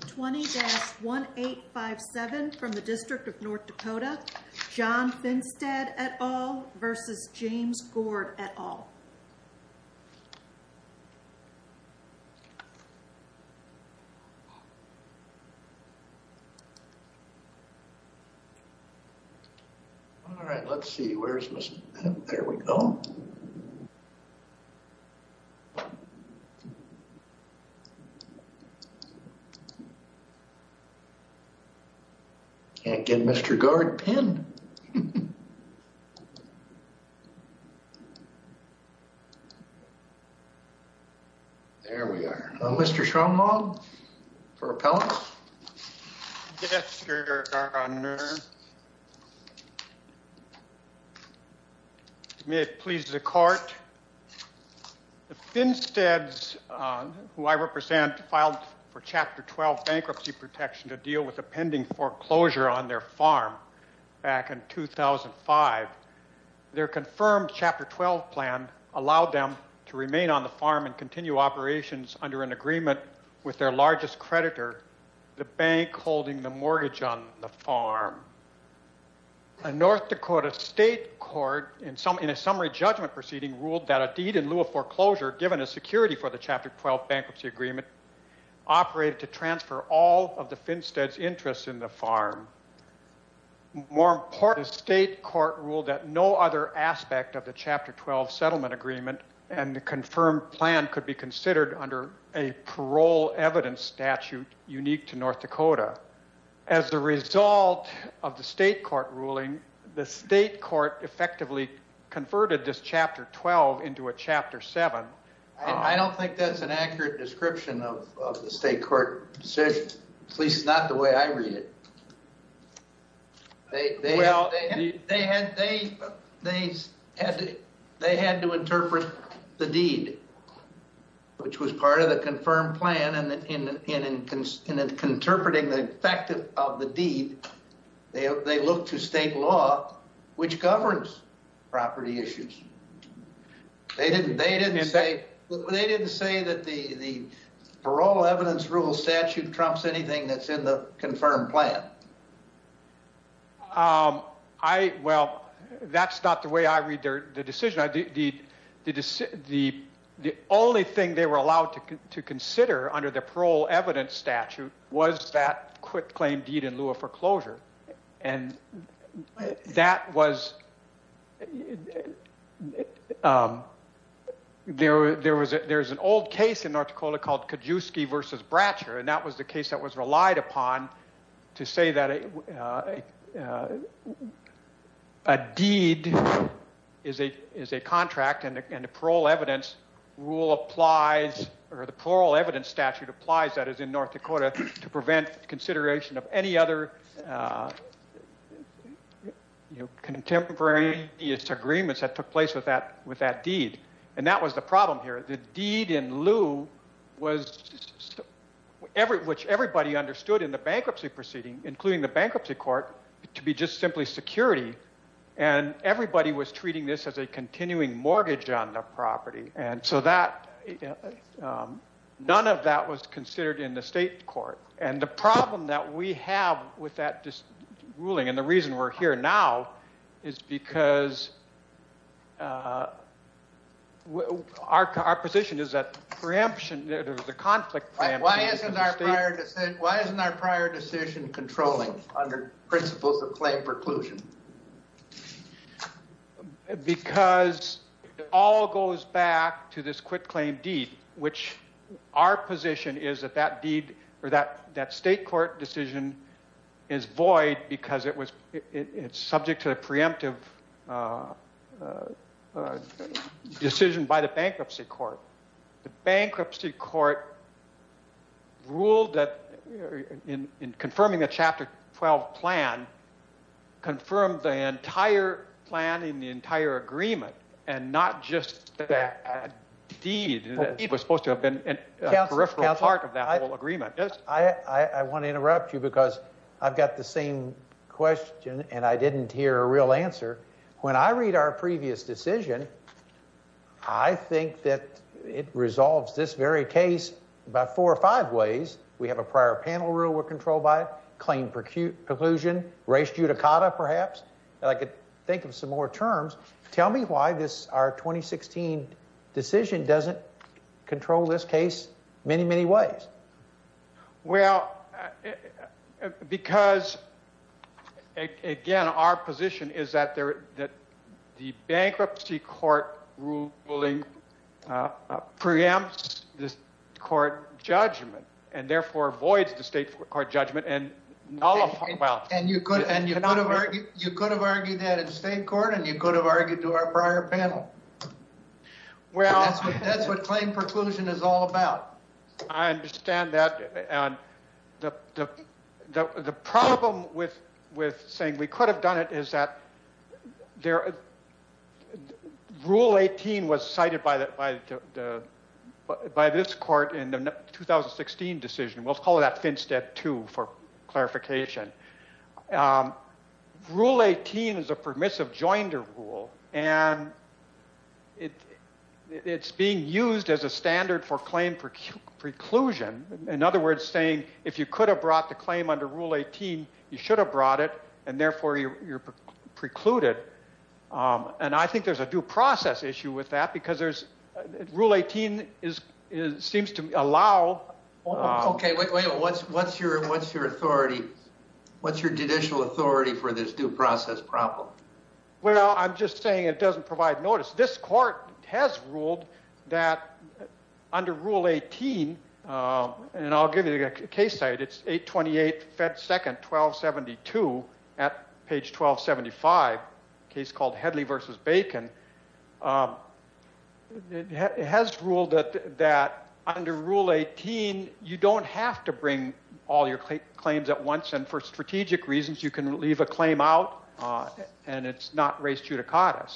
20-1857 from the District of North Dakota. John Finstead et al versus James Gord et al. All right, let's see where's Mr. There we go. Can't get Mr. Gord pinned. There we are. Mr. Schroemold for appellant. Yes, your honor. May it please the court. The Finsteads who I represent filed for Chapter 12 bankruptcy protection to deal with a pending foreclosure on their farm back in 2005. Their confirmed Chapter 12 plan allowed them to remain on the farm and continue operations under an agreement with their largest creditor, the bank holding the mortgage on the farm. A North Dakota state court in a summary judgment proceeding ruled that a deed in lieu of foreclosure given a security for the Chapter 12 bankruptcy agreement operated to transfer all of the Finsteads' interests in the farm. More importantly, the state court ruled that no other aspect of the Chapter 12 settlement agreement and the confirmed plan could be considered under a parole evidence statute unique to North Dakota. As a result of the state court ruling, the state court effectively converted this Chapter 12 into a Chapter 7. I don't think that's an accurate description of the state court decision, at least not the way I read it. They had to interpret the deed, which was part of the confirmed plan. In interpreting the effect of the deed, they looked to state law, which governs property issues. They didn't say that the parole evidence rule statute trumps anything that's in the confirmed plan. That's not the way I read the decision. The only thing they were allowed to consider under the parole evidence statute was that quick claim deed in lieu of foreclosure. There's an old case in North Dakota called Kijewski v. Bratcher, and that was the case that was relied upon to say that a deed is a contract and a parole evidence rule applies, or the parole evidence statute applies, that is, in North Dakota, to prevent consideration of any other contemporary disagreements that took place with that deed. That was the problem here. The deed in lieu, which everybody understood in the bankruptcy proceeding, including the bankruptcy court, to be just simply security, and everybody was treating this as a continuing mortgage on the property. None of that was considered in the state court. And the problem that we have with that ruling, and the reason we're here now, is because our position is that preemption, the conflict preemption in the state... Why isn't our prior decision controlling under principles of claim preclusion? Because it all goes back to this quick claim deed, which our position is that that deed, or that state court decision, is void because it's subject to a preemptive decision by the bankruptcy court. The bankruptcy court ruled that, in confirming a Chapter 12 plan, confirmed the entire plan in the entire agreement, and not just that deed. The deed was supposed to have been a peripheral part of that whole agreement. I want to interrupt you because I've got the same question, and I didn't hear a real answer. When I read our previous decision, I think that it resolves this very case about four or five ways. We have a prior panel rule we're controlled by, claim preclusion, race judicata, perhaps. I could think of some more terms. Tell me why this, our 2016 decision, doesn't control this case many, many ways. Well, because, again, our position is that the bankruptcy court ruling preempts this court judgment, and therefore avoids the state court judgment. And you could have argued that in state court, and you could have argued to our prior panel. That's what claim preclusion is all about. I understand that. The problem with saying we could have done it is that rule 18 was cited by this court in the 2016 decision. We'll call that FinSTED 2 for clarification. Rule 18 is a permissive joinder rule, and it's being used as a standard for claim preclusion. In other words, saying if you could have brought the claim under rule 18, you should have brought it, and therefore you're precluded. And I think there's a due process issue with that, because there's, rule 18 seems to allow. Okay. Wait a minute. What's your authority? What's your judicial authority for this due process problem? Well, I'm just saying it doesn't provide notice. This court has ruled that under rule 18, and I'll give you a case site. It's 828 Fed 2nd, 1272 at page 1275, case called Headley v. Bacon, has ruled that under rule 18, you don't have to bring all your claims at once. And for strategic reasons, you can leave a claim out, and it's not res judicata.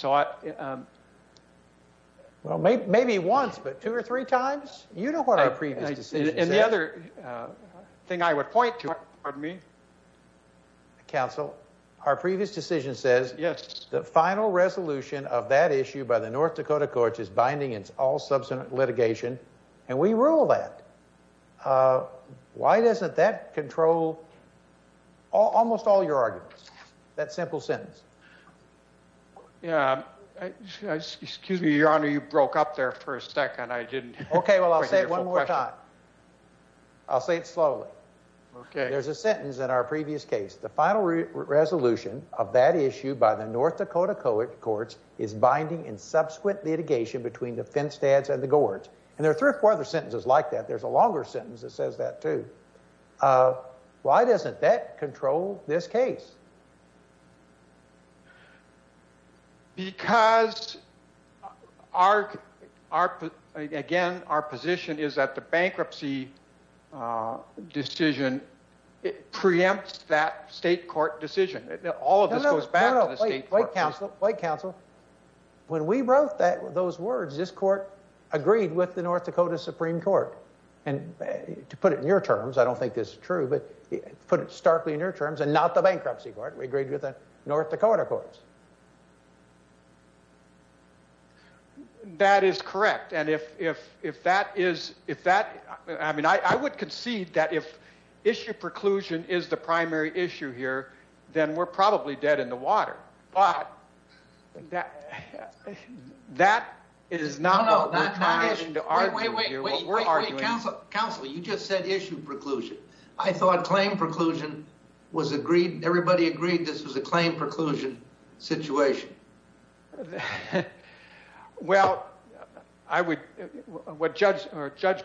Well, maybe once, but two or three times. You know what our previous decision says. And the other thing I would point to, pardon me. Counsel, our previous decision says the final resolution of that issue by the North Dakota courts is binding. It's all subsequent litigation. And we rule that. Why doesn't that control almost all your arguments, that simple sentence? Yeah. Excuse me, your honor. You broke up there for a second. I didn't. Okay. Well, I'll say it one more time. I'll say it slowly. Okay. There's a sentence in our previous case. The final resolution of that issue by the North Dakota courts is binding in subsequent litigation between the Finstads and the Gords. And there are three or four other sentences like that. There's a longer sentence that says that too. Why doesn't that control this case? Because again, our position is that the bankruptcy decision preempts that state court decision. All of this goes back to the state court. Wait, counsel. When we wrote those words, this court agreed with the North Dakota Supreme Court. And to put it in your terms, I don't think this is true, but put it starkly in your terms and not the bankruptcy court. We agreed with the North Dakota courts. That is correct. And if that is, if that, I mean, I would concede that if issue preclusion is the primary issue here, then we're probably dead in the water. But that is not what we're trying to argue here. Wait, wait, counsel. You just said issue preclusion. I thought claim preclusion was agreed. Everybody agreed this was a claim preclusion situation. Well, I would, what Judge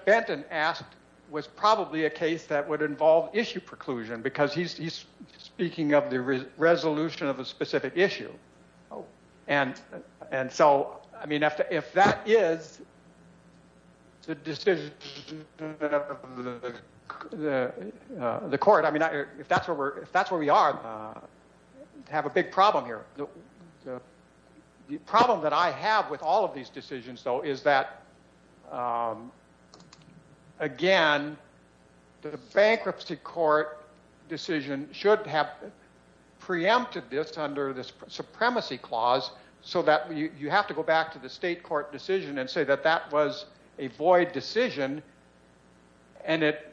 Benton asked was probably a case that would involve issue preclusion because he's speaking of the resolution of a specific issue. And, and so, I mean, if that is the decision of the court, I mean, if that's where we're, if that's where we are, have a big problem here. The problem that I have with all of these decisions though, is that again, the bankruptcy court decision should have preempted this under the supremacy clause so that you have to go back to the state court decision and say that that was a void decision. And it,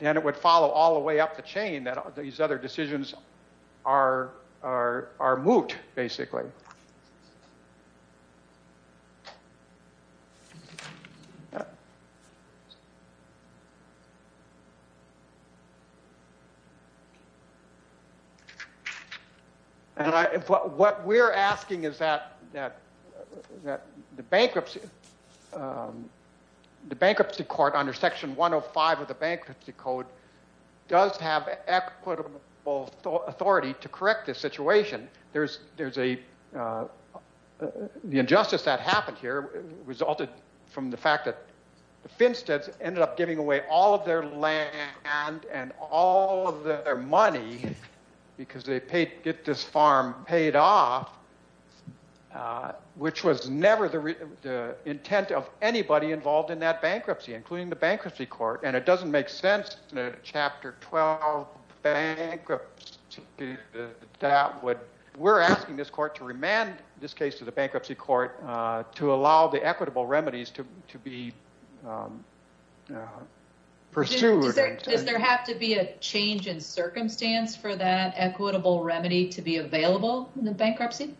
and it would follow all the way up the chain that these other decisions are, are, are moot basically. And I, what we're asking is that, that, that the bankruptcy, the bankruptcy court under section 105 of the bankruptcy code does have equitable authority to correct this situation. There's, there's a, the injustice that happened here resulted from the fact that the Finsteads ended up giving away all of their land and all of their money because they paid, get this farm paid off which was never the intent of anybody involved in that bankruptcy, including the bankruptcy court. And it doesn't make sense in a chapter 12 bankruptcy that would, we're asking this court to remand this case to the bankruptcy court to allow the equitable remedies to, to be pursued. Does there have to be a change in circumstance for that equitable remedy to be available in the bankruptcy?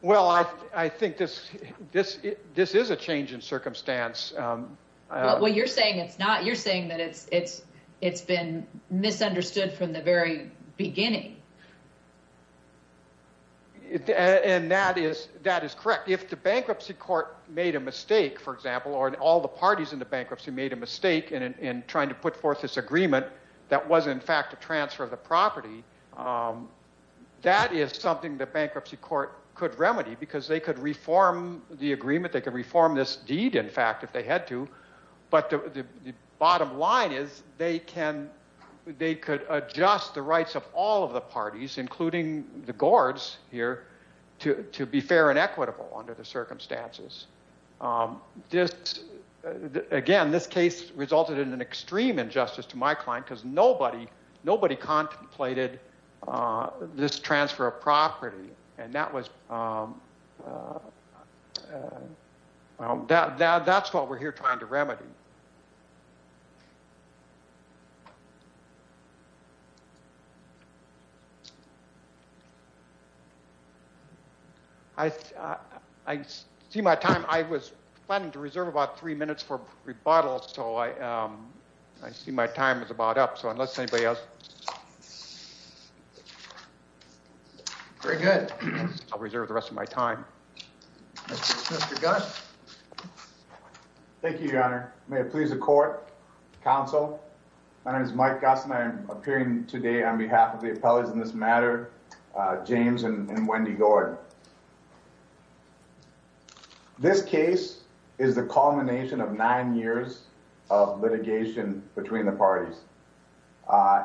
Well, I, I think this, this, this is a change in circumstance. Well, you're saying it's not, you're saying that it's, it's, it's been misunderstood from the very beginning. And that is, that is correct. If the bankruptcy court made a mistake, for example, or all the parties in the bankruptcy made a mistake in, in trying to put forth this agreement that was in fact a transfer of the property, that is something the bankruptcy court could remedy because they could reform the agreement. They could reform this deed, in fact, if they had to. But the bottom line is they can, they could adjust the rights of all of the parties, including the guards here to, to be fair and equitable under the circumstances. This, again, this case resulted in an extreme injustice to my client because nobody, nobody contemplated this transfer of property. And that was, that, that, that's what we're here trying to remedy. I, I see my time. I was planning to reserve about three minutes for rebuttal. So I, um, I see my time is about up. So unless anybody else. Very good. I'll reserve the rest of my time. Thank you, Your Honor. May it please the court, counsel. My name is Mike Goss and I'm appearing today on behalf of the appellees in this matter. James and Wendy Gordon. This case is the culmination of nine years of litigation between the parties.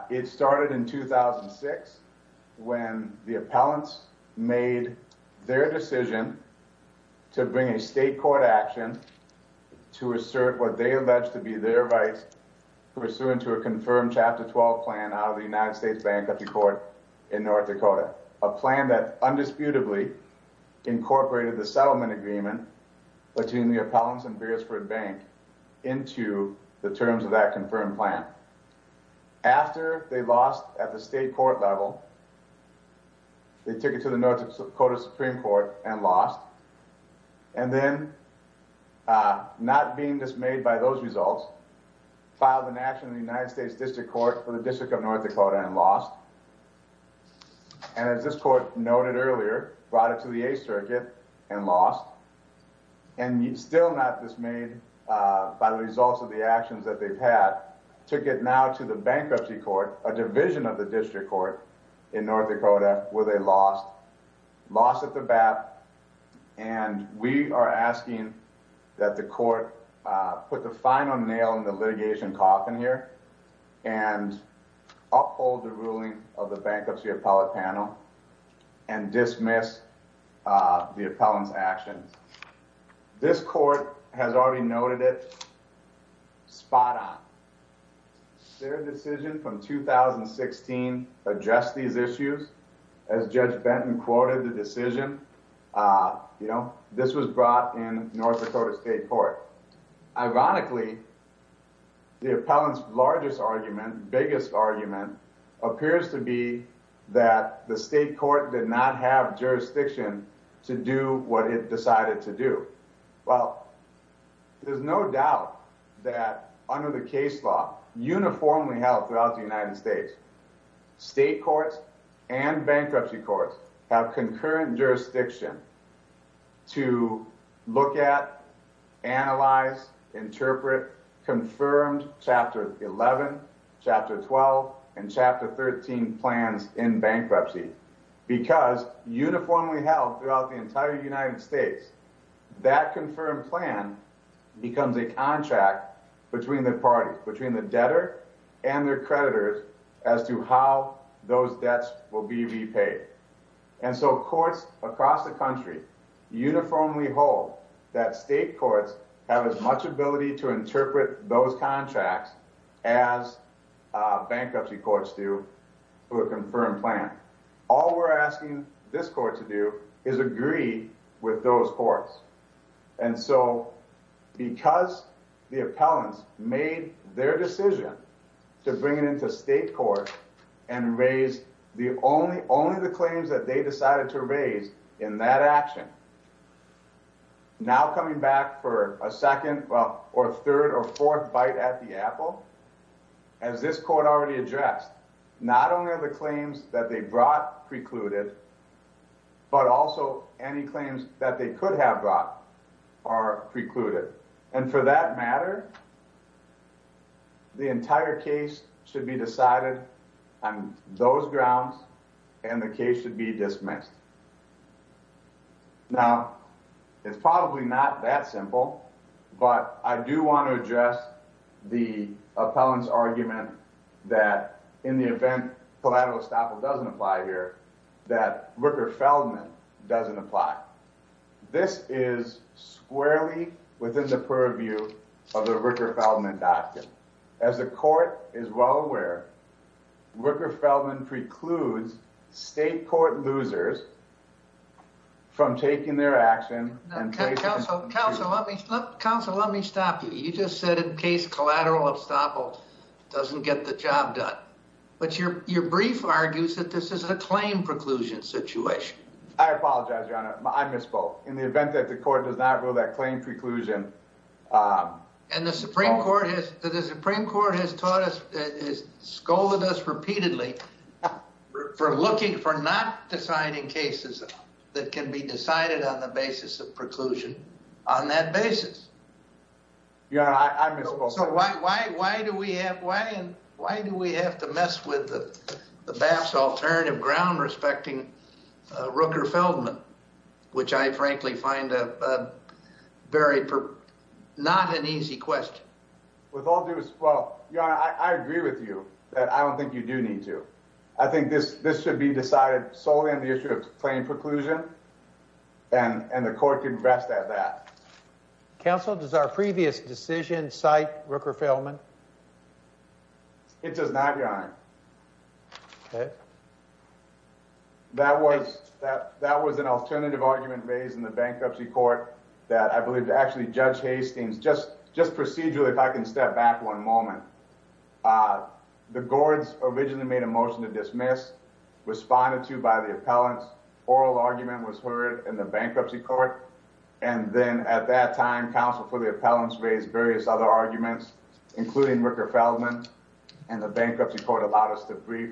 It started in 2006 when the appellants made their decision to bring a state court action to assert what they alleged to be their rights pursuant to a confirmed chapter 12 plan out of the United States bankruptcy court in North Dakota. A plan that undisputedly incorporated the settlement agreement between the appellants and Beardsford bank into the terms of that confirmed plan. After they lost at the state court level, they took it to the North Dakota Supreme Court and lost. And then, uh, not being dismayed by those results filed an action in the United States district court for the district of North Dakota and lost. And as this court noted earlier, brought it to the 8th circuit and lost. And you still not dismayed by the results of the actions that they've had to get now to the bankruptcy court, a division of the district court in North Dakota where they lost, lost at the bat. And we are asking that the court put the final nail in the litigation coffin here and uphold the ruling of the bankruptcy appellate panel and dismiss the appellant's actions. This court has already noted it spot on. Their decision from 2016 address these issues as Judge Benton quoted the decision, uh, you know, this was brought in North Dakota state court. Ironically, the appellant's largest argument, biggest argument appears to be that the state court did not have jurisdiction to do what it decided to do. Well, there's no doubt that under the case law uniformly held throughout the United States, state courts and bankruptcy courts have concurrent jurisdiction to look at, analyze, interpret confirmed chapter 11 chapter 12 and chapter 13 plans in bankruptcy because uniformly held throughout the entire United States, that confirmed plan becomes a contract between the parties, between the debtor and their creditors as to how those debts will be repaid. And so courts across the country uniformly hold that state courts have as much ability to interpret those contracts as bankruptcy courts do for the confirmed plan. All we're asking this court to do is agree with those courts. And so because the appellants made their decision to bring it into state court and raise the only, only the claims that they decided to raise in that action. Now, coming back for a second or third or fourth bite at the apple, as this court already addressed, not only are the claims that they brought precluded, but also any claims that they could have brought are precluded. And for that matter, the entire case should be decided on those grounds and the case should be dismissed. Now, it's probably not that simple, but I do want to address the appellant's argument that in the event collateral estoppel doesn't apply here, that Rooker Feldman doesn't apply. This is squarely within the purview of the Rooker Feldman doctrine. As the court is well aware, Rooker Feldman precludes state court losers from taking their action. Now, counsel, let me stop you. You just said in case collateral estoppel doesn't get the job done. But your brief argues that this is a claim preclusion situation. I apologize, Your Honor. I misspoke. In the event that the court does not rule that claim preclusion... And the Supreme Court has told us, has scolded us repeatedly for not deciding cases that can be decided on the basis of preclusion on that basis. Your Honor, I misspoke. So why do we have to mess with the BAPS alternative ground respecting Rooker Feldman, which I find not an easy question. With all due respect, Your Honor, I agree with you that I don't think you do need to. I think this should be decided solely on the issue of claim preclusion, and the court can rest at that. Counsel, does our previous decision cite Rooker Feldman? It does not, Your Honor. Okay. That was an alternative argument raised in the bankruptcy court that I believe actually Judge Hastings, just procedurally, if I can step back one moment. The gourds originally made a motion to dismiss, responded to by the appellants, oral argument was heard in the bankruptcy court. And then at that time, counsel for the appellants raised various other arguments, including Rooker Feldman, and the bankruptcy court allowed us to brief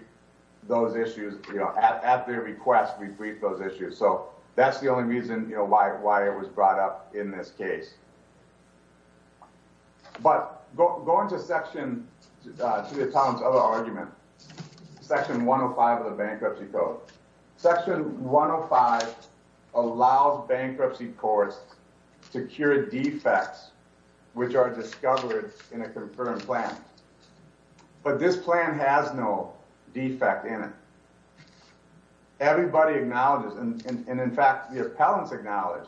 those issues at their request we briefed those issues. So that's the only reason why it was brought up in this case. But going to the appellant's other argument, section 105 of the bankruptcy code. Section 105 allows bankruptcy courts to cure defects which are discovered in a confirmed plan. But this plan has no defect in it. Everybody acknowledges, and in fact, the appellants acknowledge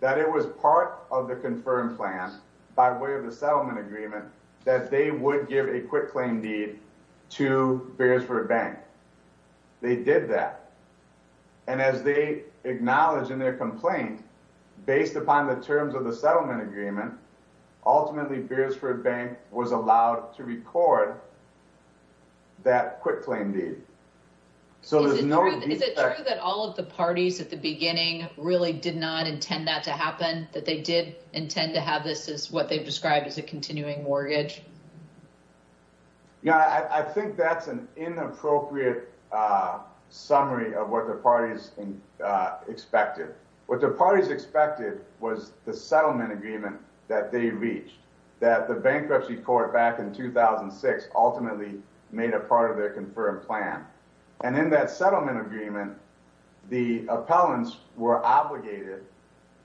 that it was part of the confirmed plan by way of the settlement agreement that they would give a quick claim deed to Bearsford Bank. They did that. And as they acknowledge in their complaint, based upon the terms of the settlement agreement, ultimately, Bearsford Bank was allowed to record that quick claim deed. So there's no- Is it true that all of the parties at the beginning really did not intend that to happen? That they did intend to have this as what they've described as a continuing mortgage? Yeah, I think that's an inappropriate summary of what the parties expected. What the parties expected was the settlement agreement that they reached, that the bankruptcy court back in 2006 ultimately made a part of their confirmed plan. And in that settlement agreement, the appellants were obligated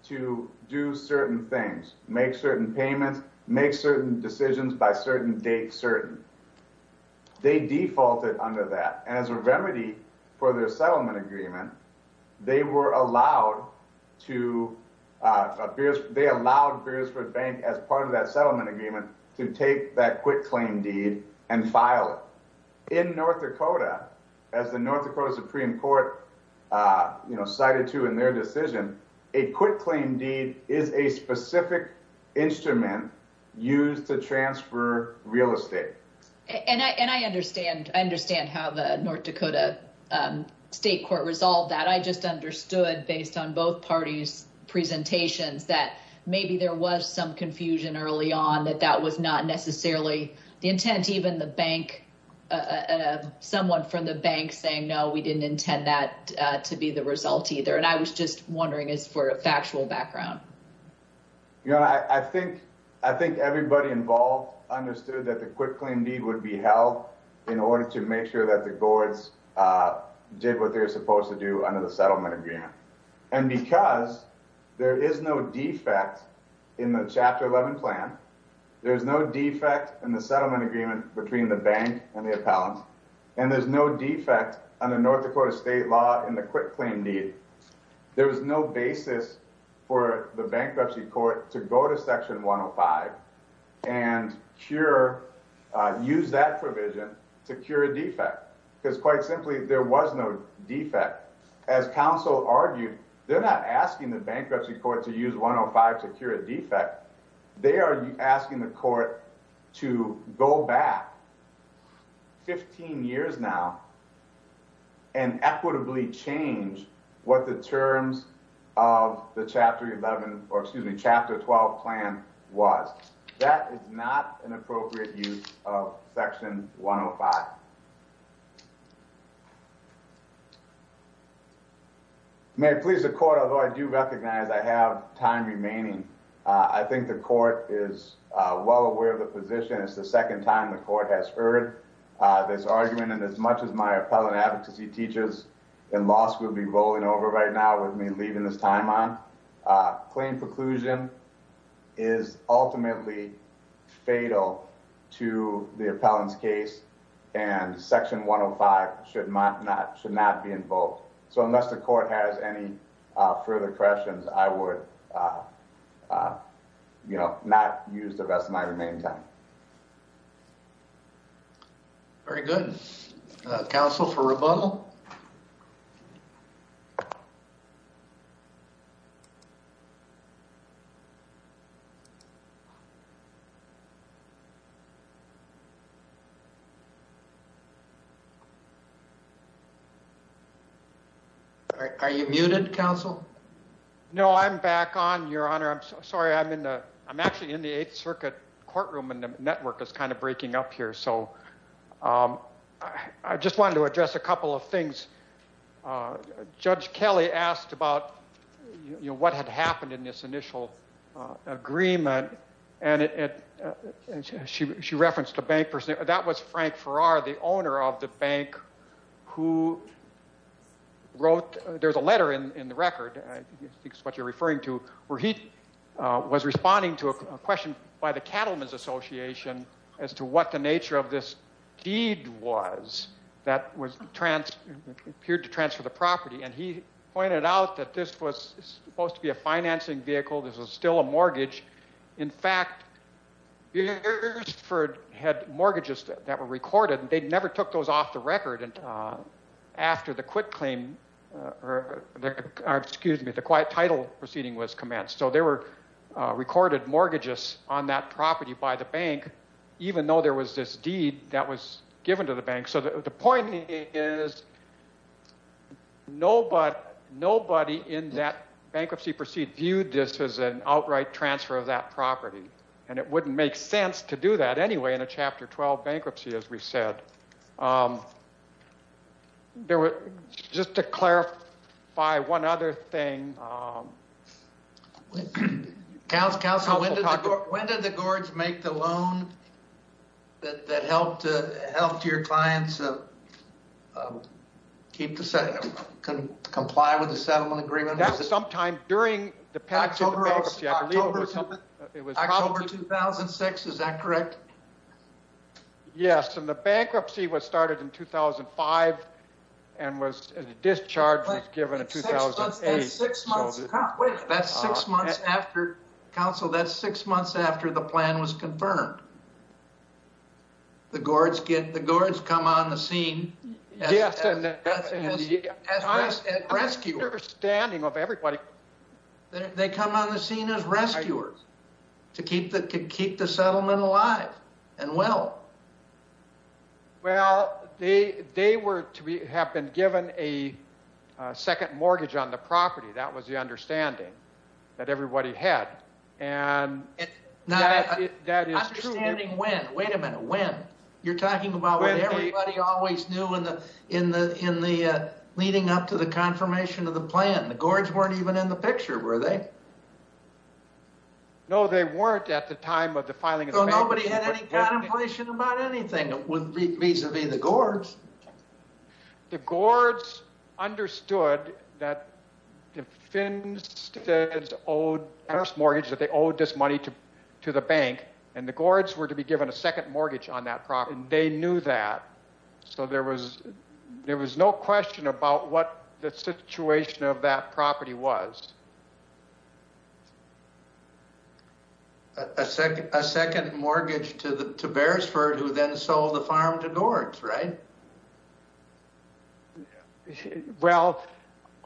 to do certain things, make certain decisions by certain date certain. They defaulted under that. And as a remedy for their settlement agreement, they were allowed to- they allowed Bearsford Bank, as part of that settlement agreement, to take that quick claim deed and file it. In North Dakota, as the North Dakota Supreme Court cited to in their decision, a quick to transfer real estate. And I understand. I understand how the North Dakota state court resolved that. I just understood, based on both parties' presentations, that maybe there was some confusion early on that that was not necessarily the intent. Even the bank, someone from the bank saying, no, we didn't intend that to be the result either. And I was just wondering as for a factual background. You know, I think I think everybody involved understood that the quick claim deed would be held in order to make sure that the gourds did what they were supposed to do under the settlement agreement. And because there is no defect in the Chapter 11 plan, there's no defect in the settlement agreement between the bank and the appellant. And there's no defect on the North Dakota state law in the quick claim deed. There was no basis for the bankruptcy court to go to Section 105 and cure, use that provision to cure a defect. Because quite simply, there was no defect. As counsel argued, they're not asking the bankruptcy court to use 105 to cure a defect. They are asking the court to go back 15 years now and equitably change what the terms of the Chapter 11, or excuse me, Chapter 12 plan was. That is not an appropriate use of Section 105. May I please, the court, although I do recognize I have time remaining, I think the court is well aware of the position. It's the second time the court has heard this argument. And as much as my appellant advocacy teachers in law school will be rolling over right now with me leaving this time on, claim preclusion is ultimately fatal to the appellant's case. And Section 105 should not be invoked. So unless the court has any further questions, I would not use the rest of my remaining time. Very good. Counsel for rebuttal? Are you muted, counsel? No, I'm back on, Your Honor. I'm sorry. I'm in the, I'm actually in the Eighth Circuit courtroom in the middle of this. Network is kind of breaking up here. So I just wanted to address a couple of things. Judge Kelly asked about, you know, what had happened in this initial agreement. And she referenced a bank person. That was Frank Farrar, the owner of the bank who wrote, there's a letter in the record. I think it's what you're referring to, where he was responding to a question by the Cattlemen's Association as to what the nature of this deed was that appeared to transfer the property. And he pointed out that this was supposed to be a financing vehicle. This was still a mortgage. In fact, Beersford had mortgages that were recorded. They never took those off the record after the quit claim, or excuse me, the quiet title proceeding was commenced. So they were recorded mortgages on that property by the bank, even though there was this deed that was given to the bank. So the point is nobody in that bankruptcy proceed viewed this as an outright transfer of that property. And it wouldn't make sense to do that anyway in a Chapter 12 bankruptcy, as we said. There was, just to clarify one other thing. When did the Gord's make the loan that helped your clients keep the settlement, comply with the settlement agreement? That's sometime during the bankruptcy. October 2006, is that correct? Yes. And the bankruptcy was started in 2005 and was discharged was given in 2008. That's six months after, counsel, that's six months after the plan was confirmed. The Gord's come on the scene as rescuers. I have an understanding of everybody. They come on the scene as rescuers to keep the settlement alive. And well. Well, they were to have been given a second mortgage on the property. That was the understanding that everybody had. And that is true. Understanding when? Wait a minute. When? You're talking about what everybody always knew in the leading up to the confirmation of the plan. The Gord's weren't even in the picture, were they? No, they weren't at the time of the filing. Nobody had any contemplation about anything vis-a-vis the Gord's. The Gord's understood that the Finsteads owed this mortgage, that they owed this money to the bank, and the Gord's were to be given a second mortgage on that property. They knew that. So there was no question about what the situation of that property was. A second mortgage to Beersford, who then sold the farm to Gord's, right? Well,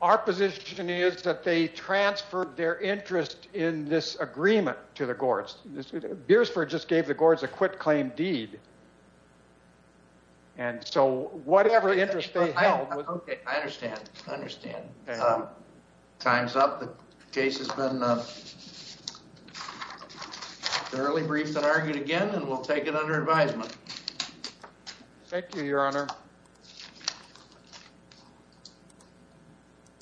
our position is that they transferred their interest in this agreement to the Gord's. Beersford just gave the Gord's a quit-claim deed. And so whatever interest they held was... Okay, I understand. Time's up. The time's up. Case has been thoroughly briefed and argued again, and we'll take it under advisement. Thank you, Your Honor.